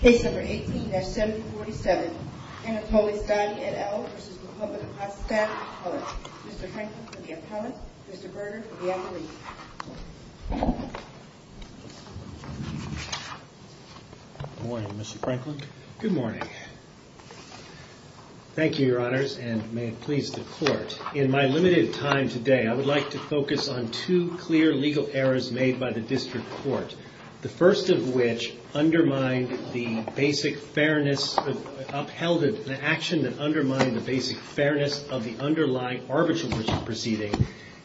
Case number 18-7047 Anatolie Stati, et al. v. Republic of Kazakhstan, et al. Mr. Franklin for the appellate, Mr. Berger for the appellate. Good morning, Mr. Franklin. Good morning. Thank you, your honors, and may it please the court. In my limited time today, I would like to focus on two clear legal errors made by the district court, the first of which undermined the basic fairness, upheld an action that undermined the basic fairness of the underlying arbitration proceeding,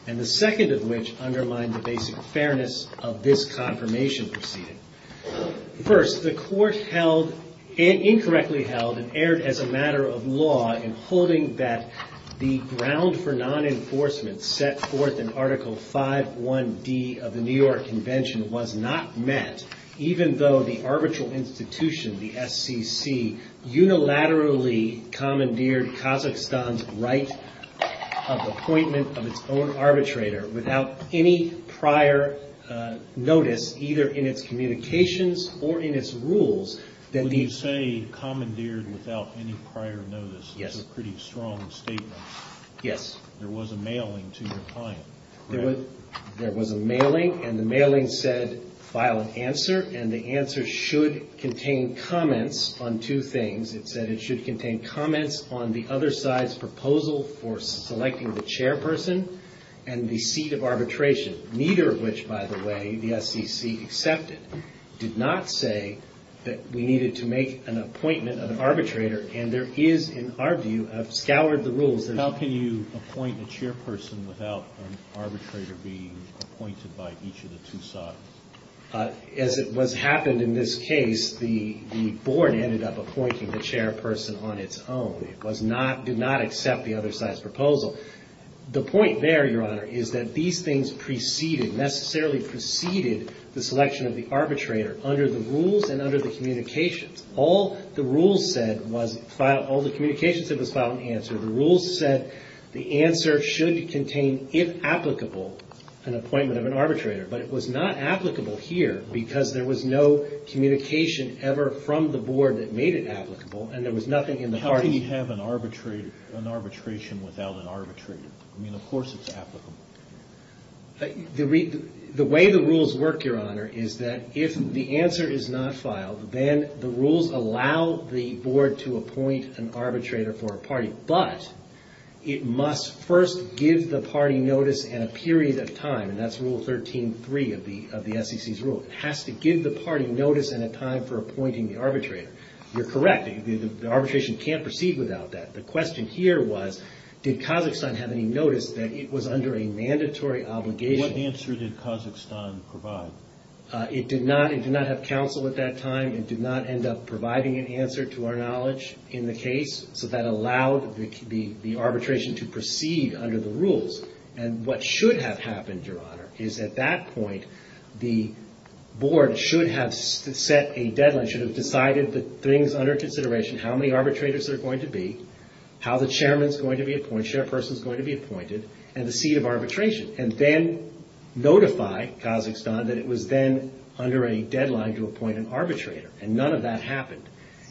and the second of which undermined the basic fairness of this confirmation proceeding. First, the court held, incorrectly held, and erred as a matter of law in holding that the ground for non-enforcement set forth in Article 5.1.D of the New York Convention was not met, even though the arbitral institution, the SCC, unilaterally commandeered Kazakhstan's right of appointment of its own arbitrator without any prior notice, either in its communications or in its rules. When you say commandeered without any prior notice, that's a pretty strong statement. Yes. There was a mailing to your client, correct? There was a mailing, and the mailing said, file an answer, and the answer should contain comments on two things. It said it should contain comments on the other side's proposal for selecting the chairperson and the seat of arbitration, neither of which, by the way, the SCC accepted, did not say that we needed to make an appointment of an arbitrator, and there is, in our view, I've scoured the rules. How can you appoint a chairperson without an arbitrator being appointed by each of the two sides? As it was happened in this case, the board ended up appointing the chairperson on its own. It did not accept the other side's proposal. The point there, Your Honor, is that these things preceded, necessarily preceded, the selection of the arbitrator under the rules and under the communications. All the rules said was, all the communications said was, file an answer. The rules said the answer should contain, if applicable, an appointment of an arbitrator, but it was not applicable here because there was no communication ever from the board that made it applicable, and there was nothing in the parties. How can you have an arbitration without an arbitrator? I mean, of course it's applicable. The way the rules work, Your Honor, is that if the answer is not filed, then the rules allow the board to appoint an arbitrator for a party, but it must first give the party notice and a period of time, and that's Rule 13.3 of the SEC's rule. It has to give the party notice and a time for appointing the arbitrator. You're correct. The arbitration can't proceed without that. The question here was, did Kazakhstan have any notice that it was under a mandatory obligation? What answer did Kazakhstan provide? It did not. It did not have counsel at that time. It did not end up providing an answer to our knowledge in the case, so that allowed the arbitration to proceed under the rules, and what should have happened, Your Honor, is at that point the board should have set a deadline, should have decided the things under consideration, how many arbitrators there are going to be, how the chairman's going to be appointed, chairperson's going to be appointed, and the seat of arbitration, and then notify Kazakhstan that it was then under a deadline to appoint an arbitrator, and none of that happened,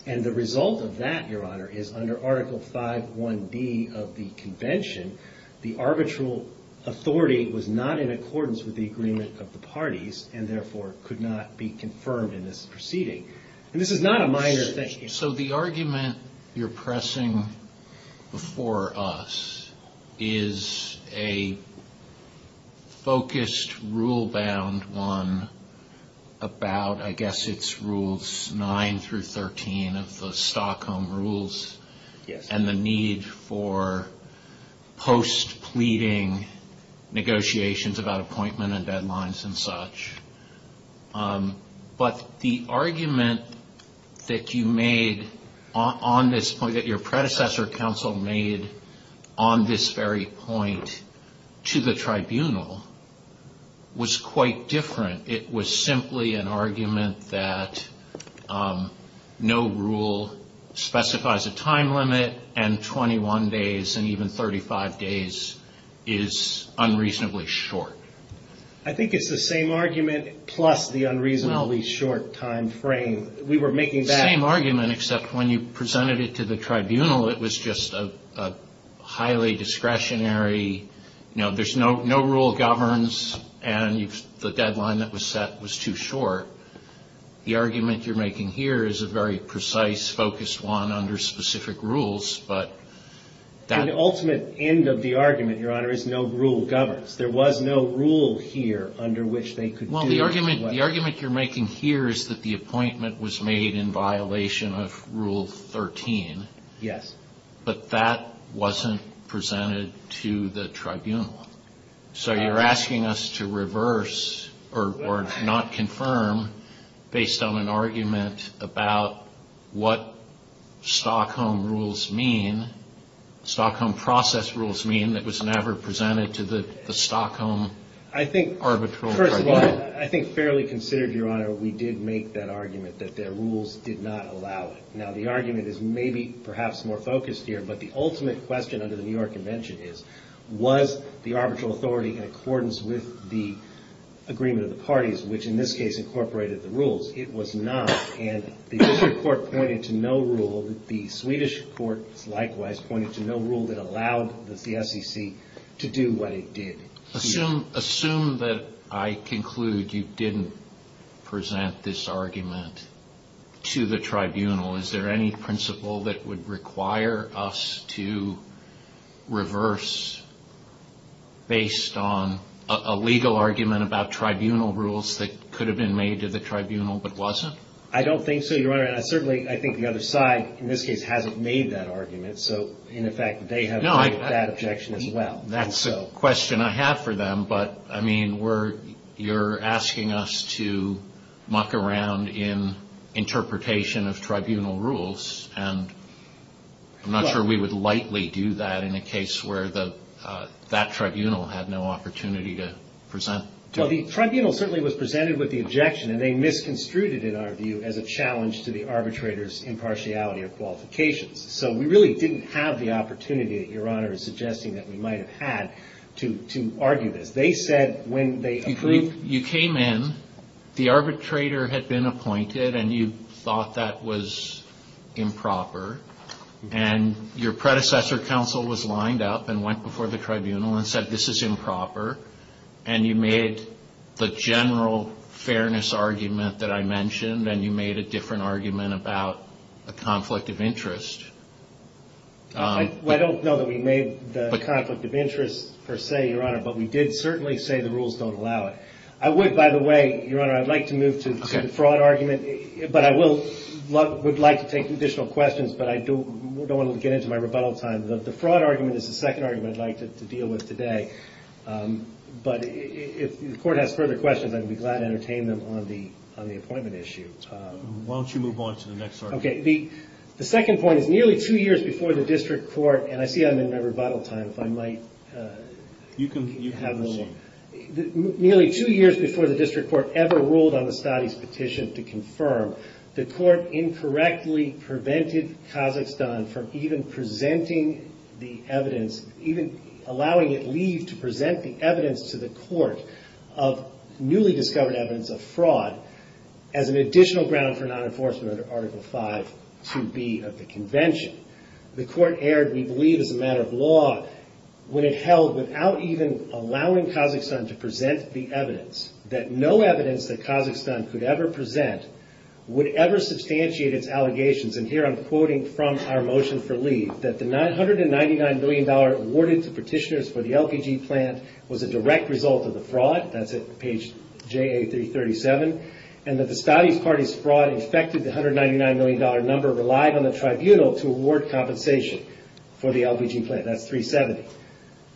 and the result of that, Your Honor, is under Article 5.1b of the convention, the arbitral authority was not in accordance with the agreement of the parties and therefore could not be confirmed in this proceeding, and this is not a minor thing. So the argument you're pressing before us is a focused, rule-bound one about, I guess it's Rules 9 through 13 of the Stockholm Rules, and the need for post-pleading negotiations about appointment and deadlines and such, but the argument that you made on this point, that your predecessor counsel made on this very point to the tribunal was quite different. It was simply an argument that no rule specifies a time limit, and 21 days and even 35 days is unreasonably short. I think it's the same argument plus the unreasonably short time frame. We were making that. It's the same argument except when you presented it to the tribunal, it was just a highly discretionary, you know, there's no rule governs and the deadline that was set was too short. The argument you're making here is a very precise, focused one under specific rules, but that. The ultimate end of the argument, Your Honor, is no rule governs. There was no rule here under which they could do. Well, the argument you're making here is that the appointment was made in violation of Rule 13. Yes. But that wasn't presented to the tribunal. So you're asking us to reverse or not confirm based on an argument about what Stockholm Rules mean, what Stockholm process rules mean that was never presented to the Stockholm arbitral tribunal. First of all, I think fairly considered, Your Honor, we did make that argument that their rules did not allow it. Now, the argument is maybe perhaps more focused here, but the ultimate question under the New York Convention is, was the arbitral authority in accordance with the agreement of the parties, which in this case incorporated the rules? It was not, and the district court pointed to no rule. The Swedish court likewise pointed to no rule that allowed the SEC to do what it did. Assume that I conclude you didn't present this argument to the tribunal. Is there any principle that would require us to reverse based on a legal argument about tribunal rules that could have been made to the tribunal but wasn't? I don't think so, Your Honor. Certainly, I think the other side in this case hasn't made that argument, so in effect they have made that objection as well. That's a question I have for them, but I mean you're asking us to muck around in interpretation of tribunal rules, and I'm not sure we would lightly do that in a case where that tribunal had no opportunity to present. Well, the tribunal certainly was presented with the objection, and they misconstrued it in our view as a challenge to the arbitrator's impartiality of qualifications. So we really didn't have the opportunity that Your Honor is suggesting that we might have had to argue this. They said when they approved. You came in. The arbitrator had been appointed, and you thought that was improper, and your predecessor counsel was lined up and went before the tribunal and said this is improper, and you made the general fairness argument that I mentioned, and you made a different argument about a conflict of interest. I don't know that we made the conflict of interest per se, Your Honor, but we did certainly say the rules don't allow it. I would, by the way, Your Honor, I'd like to move to the fraud argument, but I would like to take additional questions, but I don't want to get into my rebuttal time. The fraud argument is the second argument I'd like to deal with today, but if the court has further questions, I'd be glad to entertain them on the appointment issue. Why don't you move on to the next argument? Okay. The second point is nearly two years before the district court, and I see I'm in my rebuttal time, if I might have a moment. You can proceed. Nearly two years before the district court ever ruled on the studies petition to confirm, the court incorrectly prevented Kazakhstan from even presenting the evidence, even allowing it leave to present the evidence to the court of newly discovered evidence of fraud as an additional ground for non-enforcement under Article 5 2B of the convention. The court erred, we believe, as a matter of law, when it held without even allowing Kazakhstan to present the evidence that no evidence that Kazakhstan could ever present would ever substantiate its allegations, and here I'm quoting from our motion for leave, that the $999 million awarded to petitioners for the LPG plant was a direct result of the fraud, that's at page JA 337, and that the study's parties' fraud infected the $199 million number relied on the tribunal to award compensation for the LPG plant, that's 370.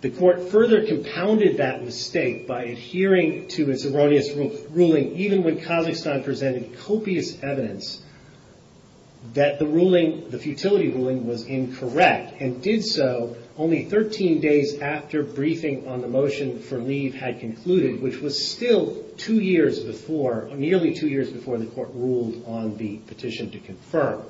The court further compounded that mistake by adhering to its erroneous ruling, even when Kazakhstan presented copious evidence that the futility ruling was incorrect, and did so only 13 days after briefing on the motion for leave had concluded, which was still nearly two years before the court ruled on the petition to confirm.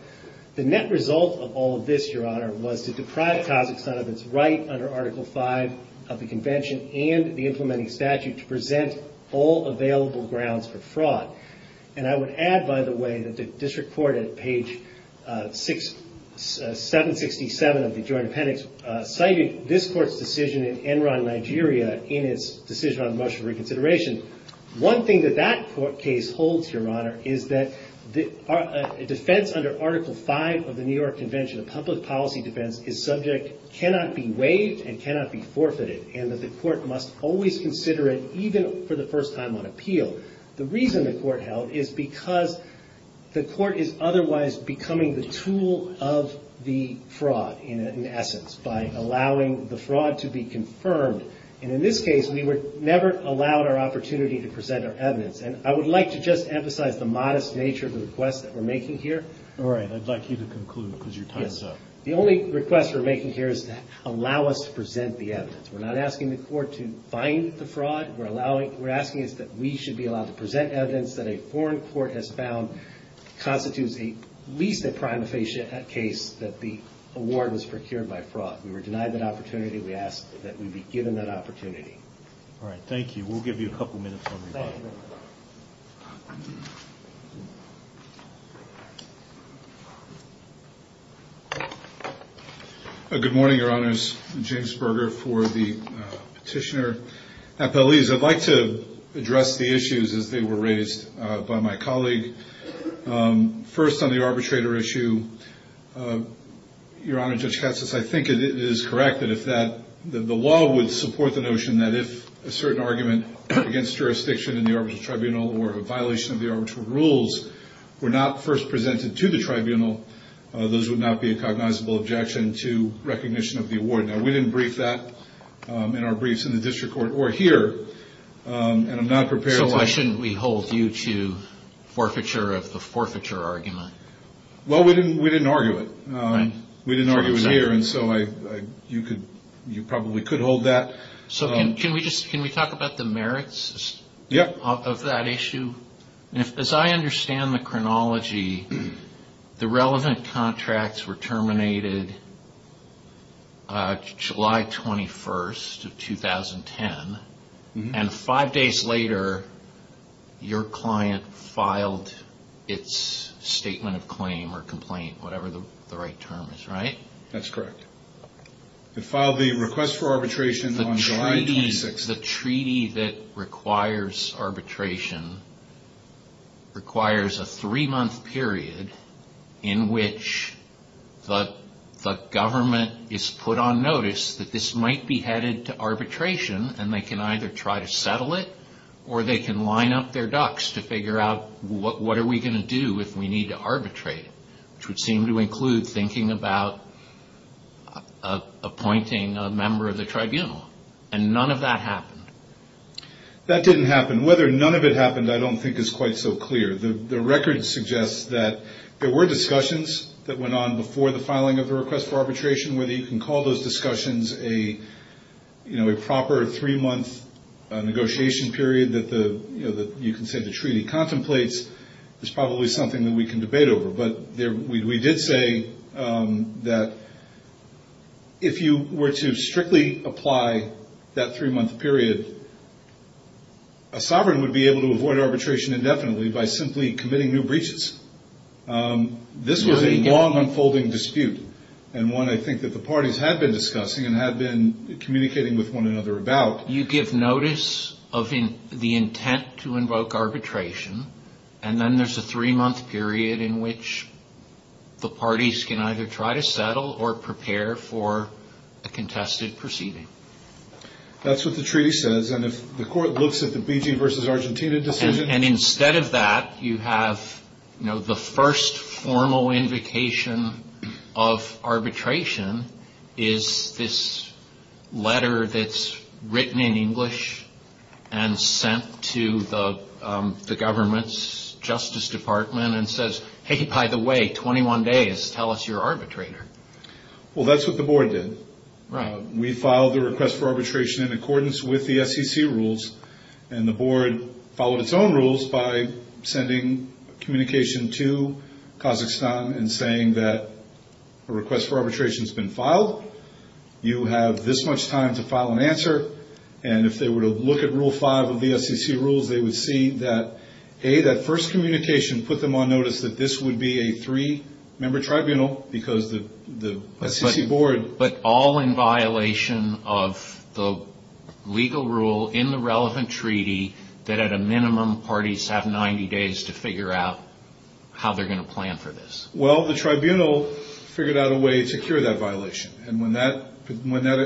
The net result of all of this, Your Honor, was to deprive Kazakhstan of its right under Article 5 of the convention and the implementing statute to present all available grounds for fraud, and I would add, by the way, that the district court at page 767 of the joint appendix cited this court's decision in Enron, Nigeria in its decision on the motion for reconsideration. One thing that that court case holds, Your Honor, is that a defense under Article 5 of the New York Convention of Public Policy Defense is subject, cannot be waived, and cannot be forfeited, and that the court must always consider it even for the first time on appeal. The reason the court held is because the court is otherwise becoming the tool of the fraud, in essence, by allowing the fraud to be confirmed, and in this case we were never allowed our opportunity to present our evidence, and I would like to just emphasize the modest nature of the request that we're making here. All right. I'd like you to conclude because your time is up. Yes. The only request we're making here is to allow us to present the evidence. We're not asking the court to find the fraud. We're asking that we should be allowed to present evidence that a foreign court has found constitutes at least a prima facie case that the award was procured by fraud. We were denied that opportunity. We ask that we be given that opportunity. All right. Thank you. We'll give you a couple minutes. Thank you. Good morning, Your Honors. James Berger for the petitioner. I'd like to address the issues as they were raised by my colleague. First on the arbitrator issue, Your Honor, Judge Katz, I think it is correct that if that the law would support the notion that if a certain argument against jurisdiction in the arbitral tribunal or a violation of the arbitral rules were not first presented to the tribunal, those would not be a cognizable objection to recognition of the award. Now, we didn't brief that in our briefs in the district court or here, and I'm not prepared to So why shouldn't we hold you to forfeiture of the forfeiture argument? Well, we didn't argue it. We didn't argue it here, and so you probably could hold that. Can we talk about the merits of that issue? As I understand the chronology, the relevant contracts were terminated July 21st of 2010, and five days later your client filed its statement of claim or complaint, whatever the right term is, right? That's correct. It filed the request for arbitration on July 26th. The treaty that requires arbitration requires a three-month period in which the government is put on notice that this might be headed to arbitration, and they can either try to settle it or they can line up their ducks to figure out what are we going to do if we need to arbitrate it, which would seem to include thinking about appointing a member of the tribunal, and none of that happened. That didn't happen. Whether none of it happened I don't think is quite so clear. The record suggests that there were discussions that went on before the filing of the request for arbitration. Whether you can call those discussions a proper three-month negotiation period that you can say the treaty contemplates is probably something that we can debate over. But we did say that if you were to strictly apply that three-month period, a sovereign would be able to avoid arbitration indefinitely by simply committing new breaches. This was a long unfolding dispute, and one I think that the parties had been discussing and had been communicating with one another about. But you give notice of the intent to invoke arbitration, and then there's a three-month period in which the parties can either try to settle or prepare for a contested proceeding. That's what the treaty says, and if the court looks at the BG versus Argentina decision... And instead of that, you have the first formal invocation of arbitration is this letter that's written in English and sent to the government's justice department and says, hey, by the way, 21 days, tell us your arbitrator. Well, that's what the board did. We filed the request for arbitration in accordance with the SEC rules, and the board followed its own rules by sending communication to Kazakhstan and saying that a request for arbitration has been filed. You have this much time to file an answer, and if they were to look at Rule 5 of the SEC rules, they would see that, hey, that first communication put them on notice that this would be a three-member tribunal because the SEC board... It's a relevant treaty that, at a minimum, parties have 90 days to figure out how they're going to plan for this. Well, the tribunal figured out a way to cure that violation, and when that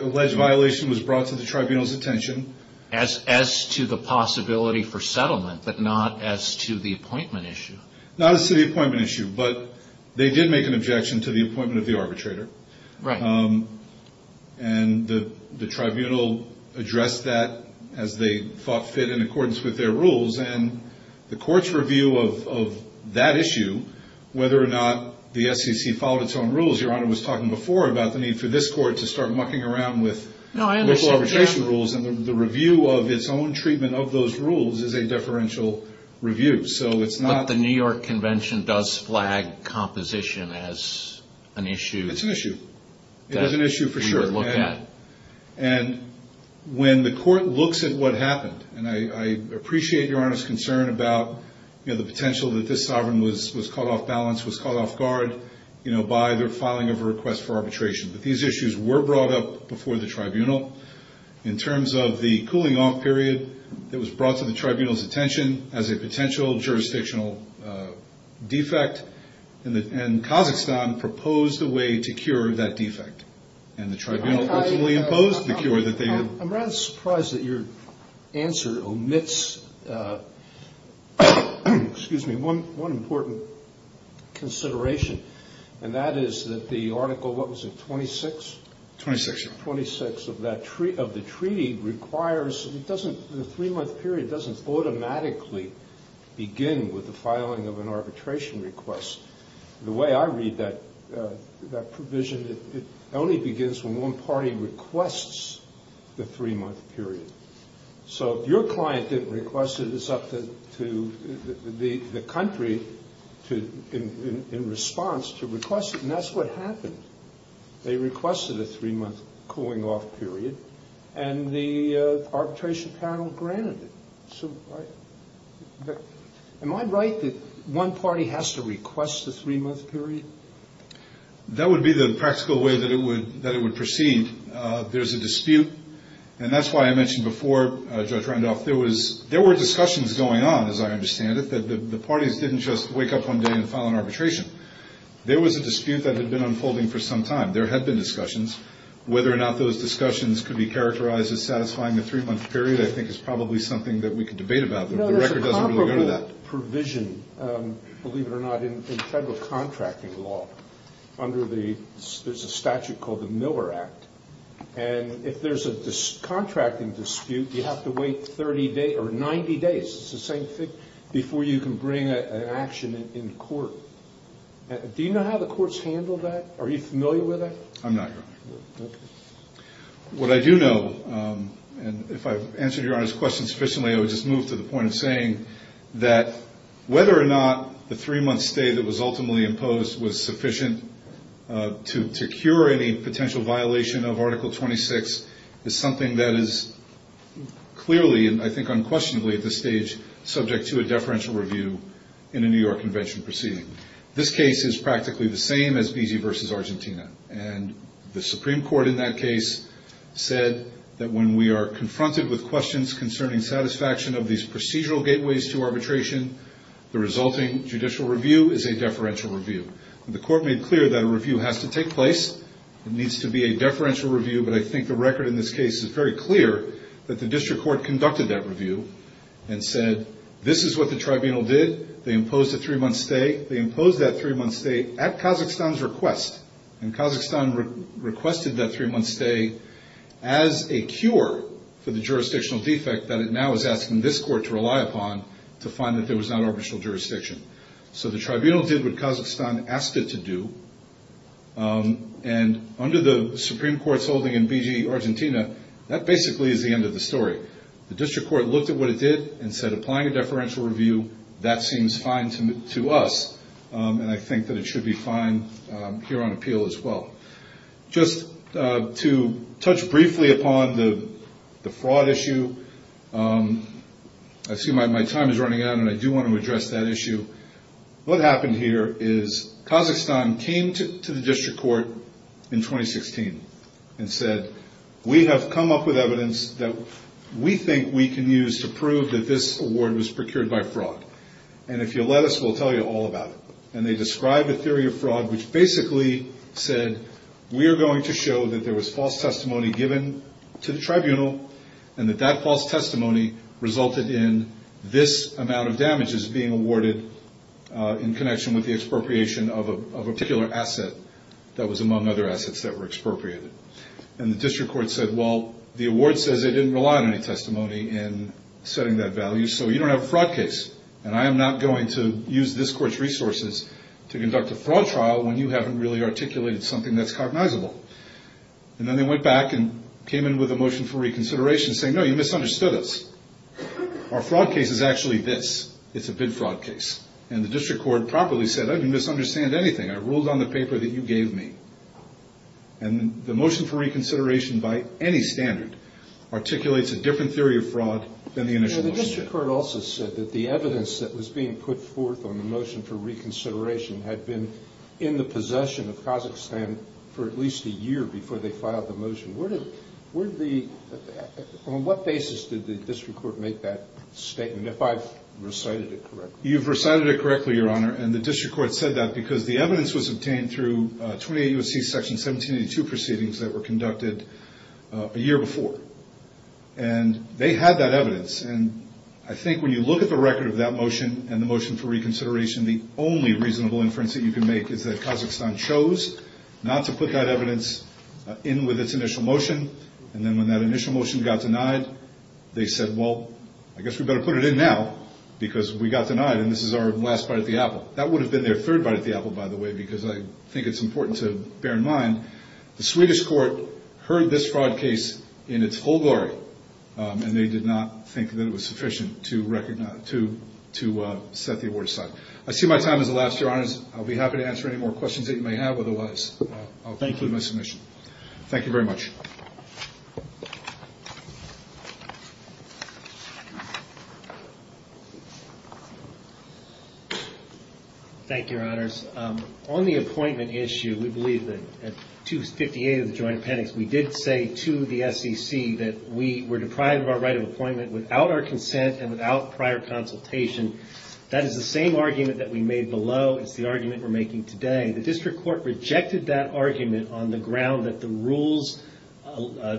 alleged violation was brought to the tribunal's attention... As to the possibility for settlement, but not as to the appointment issue. Not as to the appointment issue, but they did make an objection to the appointment of the arbitrator, and the tribunal addressed that as they thought fit in accordance with their rules, and the court's review of that issue, whether or not the SEC followed its own rules, Your Honor was talking before about the need for this court to start mucking around with local arbitration rules, and the review of its own treatment of those rules is a deferential review. But the New York Convention does flag composition as an issue. It's an issue. It is an issue, for sure. And when the court looks at what happened, and I appreciate Your Honor's concern about the potential that this sovereign was caught off balance, was caught off guard by their filing of a request for arbitration, but these issues were brought up before the tribunal. In terms of the cooling off period that was brought to the tribunal's attention as a potential jurisdictional defect, and Kazakhstan proposed a way to cure that defect. I'm rather surprised that your answer omits one important consideration, and that is that the article, what was it, 26? 26 of the treaty requires, the three-month period doesn't automatically begin with the filing of an arbitration request. The way I read that provision, it only begins when one party requests the three-month period. So if your client didn't request it, it's up to the country, in response, to request it. And that's what happened. They requested a three-month cooling off period, and the arbitration panel granted it. Am I right that one party has to request the three-month period? That would be the practical way that it would proceed. There's a dispute, and that's why I mentioned before, Judge Randolph, there were discussions going on, as I understand it, that the parties didn't just wake up one day and file an arbitration. There was a dispute that had been unfolding for some time. There had been discussions. Whether or not those discussions could be characterized as satisfying the three-month period, I think, is probably something that we could debate about. There's a comparable provision, believe it or not, in federal contracting law under the statute called the Miller Act. If there's a contracting dispute, you have to wait 30 days or 90 days, it's the same thing, before you can bring an action in court. Do you know how the courts handle that? Are you familiar with that? I'm not, Your Honor. What I do know, and if I've answered Your Honor's question sufficiently, I would just move to the point of saying that whether or not the three-month stay that was ultimately imposed was sufficient to cure any potential violation of Article 26 is something that is clearly, and I think unquestionably at this stage, subject to a deferential review in a New York Convention proceeding. This case is practically the same as Beezy v. Argentina. The Supreme Court in that case said that when we are confronted with questions concerning satisfaction of these procedural gateways to arbitration, the resulting judicial review is a deferential review. The Court made clear that a review has to take place. It needs to be a deferential review, but I think the record in this case is very clear that the District Court conducted that review and said this is what the Tribunal did. They imposed a three-month stay. They imposed that three-month stay at Kazakhstan's request, and Kazakhstan requested that three-month stay as a cure for the jurisdictional defect that it now is asking this Court to rely upon to find that there was not arbitral jurisdiction. So the Tribunal did what Kazakhstan asked it to do, and under the Supreme Court's holding in Beezy v. Argentina, that basically is the end of the story. The District Court looked at what it did and said applying a deferential review, that seems fine to us, and I think that it should be fine here on appeal as well. Just to touch briefly upon the fraud issue. I see my time is running out, and I do want to address that issue. What happened here is Kazakhstan came to the District Court in 2016 and said, we have come up with evidence that we think we can use to prove that this award was procured by fraud. And if you'll let us, we'll tell you all about it. And they described a theory of fraud which basically said we are going to show that there was false testimony given to the Tribunal, and that that false testimony resulted in this amount of damages being awarded to Kazakhstan. In connection with the expropriation of a particular asset that was among other assets that were expropriated. And the District Court said, well, the award says they didn't rely on any testimony in setting that value, so you don't have a fraud case, and I am not going to use this Court's resources to conduct a fraud trial when you haven't really articulated something that's cognizable. And then they went back and came in with a motion for reconsideration saying, no, you misunderstood us. Our fraud case is actually this, it's a bid fraud case. And the District Court properly said, I didn't misunderstand anything, I ruled on the paper that you gave me. And the motion for reconsideration by any standard articulates a different theory of fraud than the initial motion did. The District Court also said that the evidence that was being put forth on the motion for reconsideration had been in the possession of Kazakhstan for at least a year before they filed the motion. On what basis did the District Court make that statement, if I've recited it correctly? You've recited it correctly, Your Honor, and the District Court said that because the evidence was obtained through 28 U.S.C. Section 1782 proceedings that were conducted a year before. And they had that evidence, and I think when you look at the record of that motion and the motion for reconsideration, the only reasonable inference that you can make is that Kazakhstan chose not to put that evidence in with its initial motion. And then when that initial motion got denied, they said, well, I guess we better put it in now, because we got denied and this is our last bite at the apple. That would have been their third bite at the apple, by the way, because I think it's important to bear in mind, the Swedish Court heard this fraud case in its full glory, and they did not think that it was sufficient to recognize, to set the award aside. I see my time has elapsed, Your Honors. I'll be happy to answer any more questions that you may have otherwise. I'll conclude my submission. Thank you very much. Thank you, Your Honors. On the appointment issue, we believe that 258 of the Joint Appendix, we did say to the SEC that we were deprived of our right of appointment without our consent and without prior consultation. That is the same argument that we made below. It's the argument we're making today. The District Court rejected that argument on the ground that the rules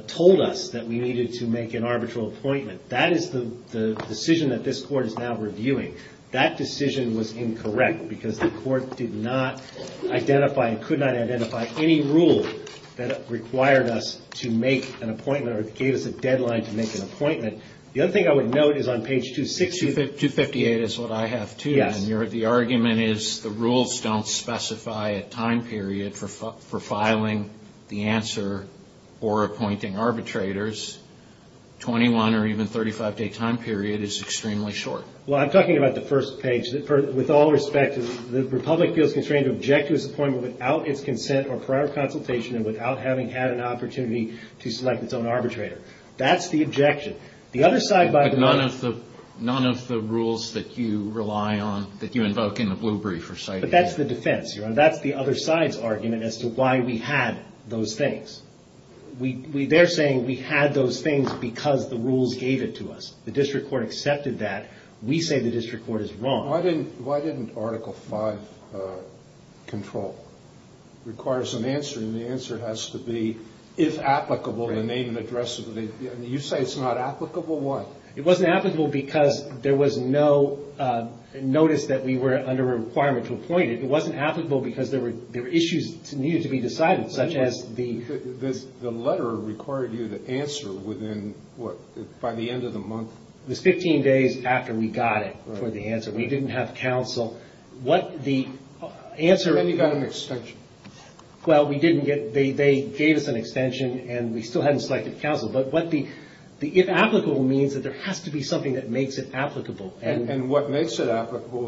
told us that we needed to make an arbitral appointment. That is the decision that this Court is now reviewing. That decision was incorrect, because the Court did not identify, could not identify any rule that required us to make an appointment or gave us a deadline to make an appointment. The other thing I would note is on page 268... 258 is what I have too, and the argument is the rules don't specify a time period for filing the answer or appointing arbitrators. 21 or even 35-day time period is extremely short. Well, I'm talking about the first page. With all respect, the Republic feels constrained to object to its appointment without its consent or prior consultation and without having had an opportunity to select its own arbitrator. That's the objection. The other side, by the way... But none of the rules that you rely on, that you invoke in the Blue Brief are cited here. But that's the defense. That's the other side's argument as to why we had those things. They're saying we had those things because the rules gave it to us. The District Court accepted that. We say the District Court is wrong. Why didn't Article V control? It requires an answer, and the answer has to be, if applicable, to name and address... You say it's not applicable? Why? It wasn't applicable because there was no notice that we were under a requirement to appoint it. It wasn't applicable because there were issues that needed to be decided, such as the... And we got it for the answer. We didn't have counsel. And you got an extension. Well, they gave us an extension, and we still hadn't selected counsel. And what makes it applicable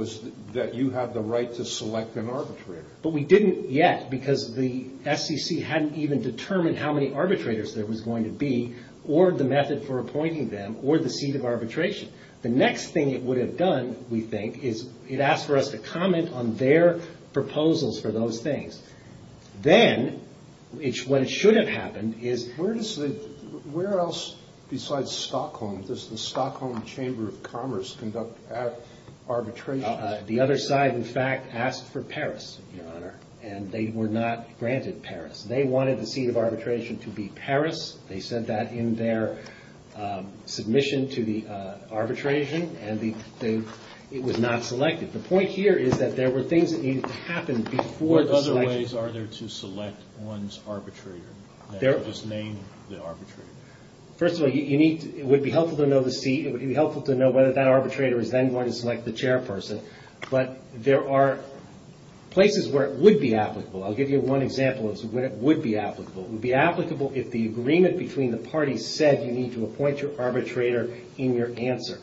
is that you have the right to select an arbitrator. But we didn't yet because the SEC hadn't even determined how many arbitrators there was going to be or the method for appointing them or the seat of arbitration. The next thing it would have done, we think, is it asked for us to comment on their proposals for those things. Then, what should have happened is... Where else besides Stockholm does the Stockholm Chamber of Commerce conduct arbitration? The other side, in fact, asked for Paris, Your Honor. And they were not granted Paris. They wanted the seat of arbitration to be Paris. They said that in their submission to the arbitration, and it was not selected. The point here is that there were things that needed to happen before the selection. What other ways are there to select one's arbitrator? First of all, it would be helpful to know the seat. It would be helpful to know whether that arbitrator is then going to select the chairperson. But there are places where it would be applicable. It would be applicable if the agreement between the parties said you need to appoint your arbitrator in your answer.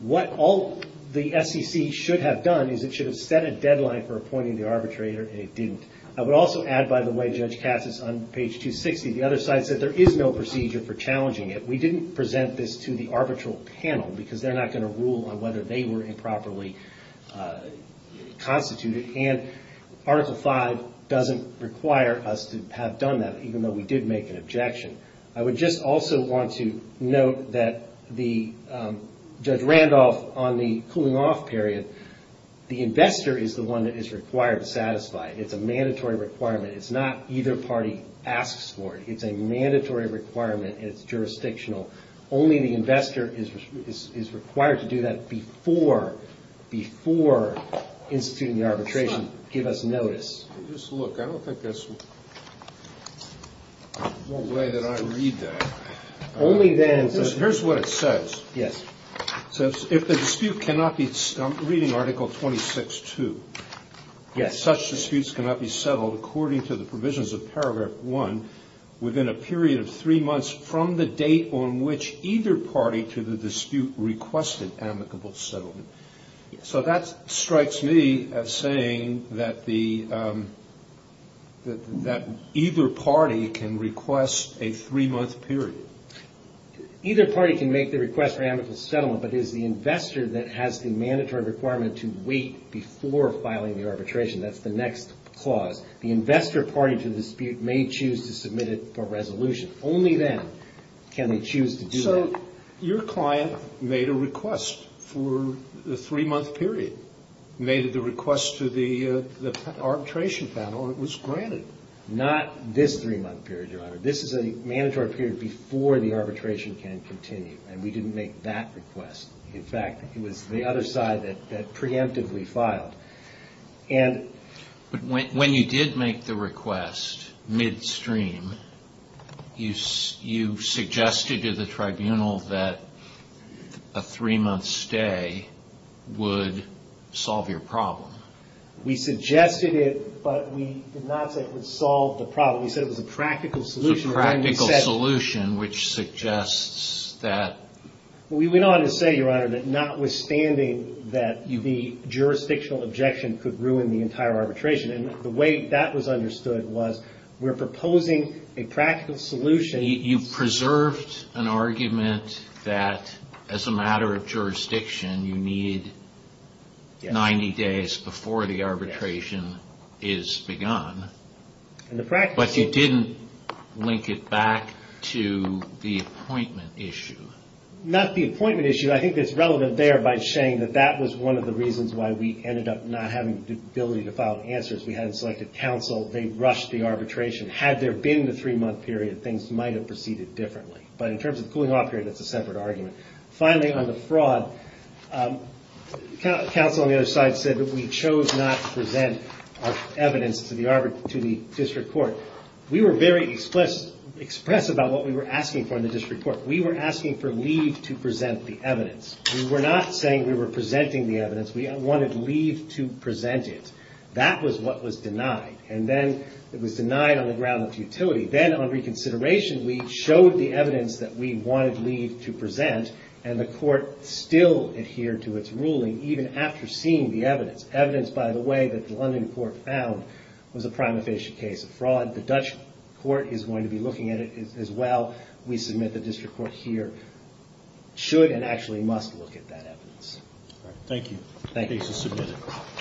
What all the SEC should have done is it should have set a deadline for appointing the arbitrator, and it didn't. I would also add, by the way, Judge Cassis, on page 260, the other side said there is no procedure for challenging it. We didn't present this to the arbitral panel, because they're not going to rule on whether they were improperly constituted. And Article V doesn't require us to have done that, even though we did make an objection. I would just also want to note that Judge Randolph, on the cooling-off period, the investor is the one that is required to satisfy it. It's a mandatory requirement. It's not either party asks for it. It's a mandatory requirement, and it's jurisdictional. Only the investor is required to do that before instituting the arbitration to give us notice. Just look. I don't think there's no way that I read that. Only then. Here's what it says. Yes. It says, if the dispute cannot be, I'm reading Article 26-2, if such disputes cannot be settled according to the provisions of Paragraph 1 within a period of three months from the date on which either party to the dispute requested amicable settlement. So that strikes me as saying that either party can request a three-month period. Either party can make the request for amicable settlement, but it is the investor that has the mandatory requirement to wait before filing the arbitration. That's the next clause. The investor party to the dispute may choose to submit it for resolution. Only then can they choose to do that. So your client made a request for the three-month period, made the request to the arbitration panel, and it was granted. Not this three-month period, Your Honor. This is a mandatory period before the arbitration can continue, and we didn't make that request. In fact, it was the other side that preemptively filed. But when you did make the request midstream, you suggested to the tribunal that a three-month stay would solve your problem. We suggested it, but we did not say it would solve the problem. We said it was a practical solution. A practical solution, which suggests that... We went on to say, Your Honor, that notwithstanding that the jurisdictional objection could ruin the entire arbitration, and the way that was understood was, we're proposing a practical solution... You preserved an argument that, as a matter of jurisdiction, you need 90 days before the arbitration is begun. But you didn't link it back to the appointment issue. Not the appointment issue. I think it's relevant there by saying that that was one of the reasons why we ended up not having the ability to file answers. We hadn't selected counsel. They rushed the arbitration. Had there been the three-month period, things might have proceeded differently. But in terms of the cooling-off period, that's a separate argument. Finally, on the fraud, counsel on the other side said that we chose not to present our evidence to the district court. We were very express about what we were asking for in the district court. We were asking for leave to present the evidence. We were not saying we were presenting the evidence. We wanted leave to present it. That was what was denied. And then it was denied on the ground of futility. Then, on reconsideration, we showed the evidence that we wanted leave to present, and the court still adhered to its ruling, even after seeing the evidence. Evidence, by the way, that the London court found was a prima facie case of fraud. The Dutch court is going to be looking at it as well. We submit the district court here should and actually must look at that evidence. Thank you. Thank you. Case is submitted.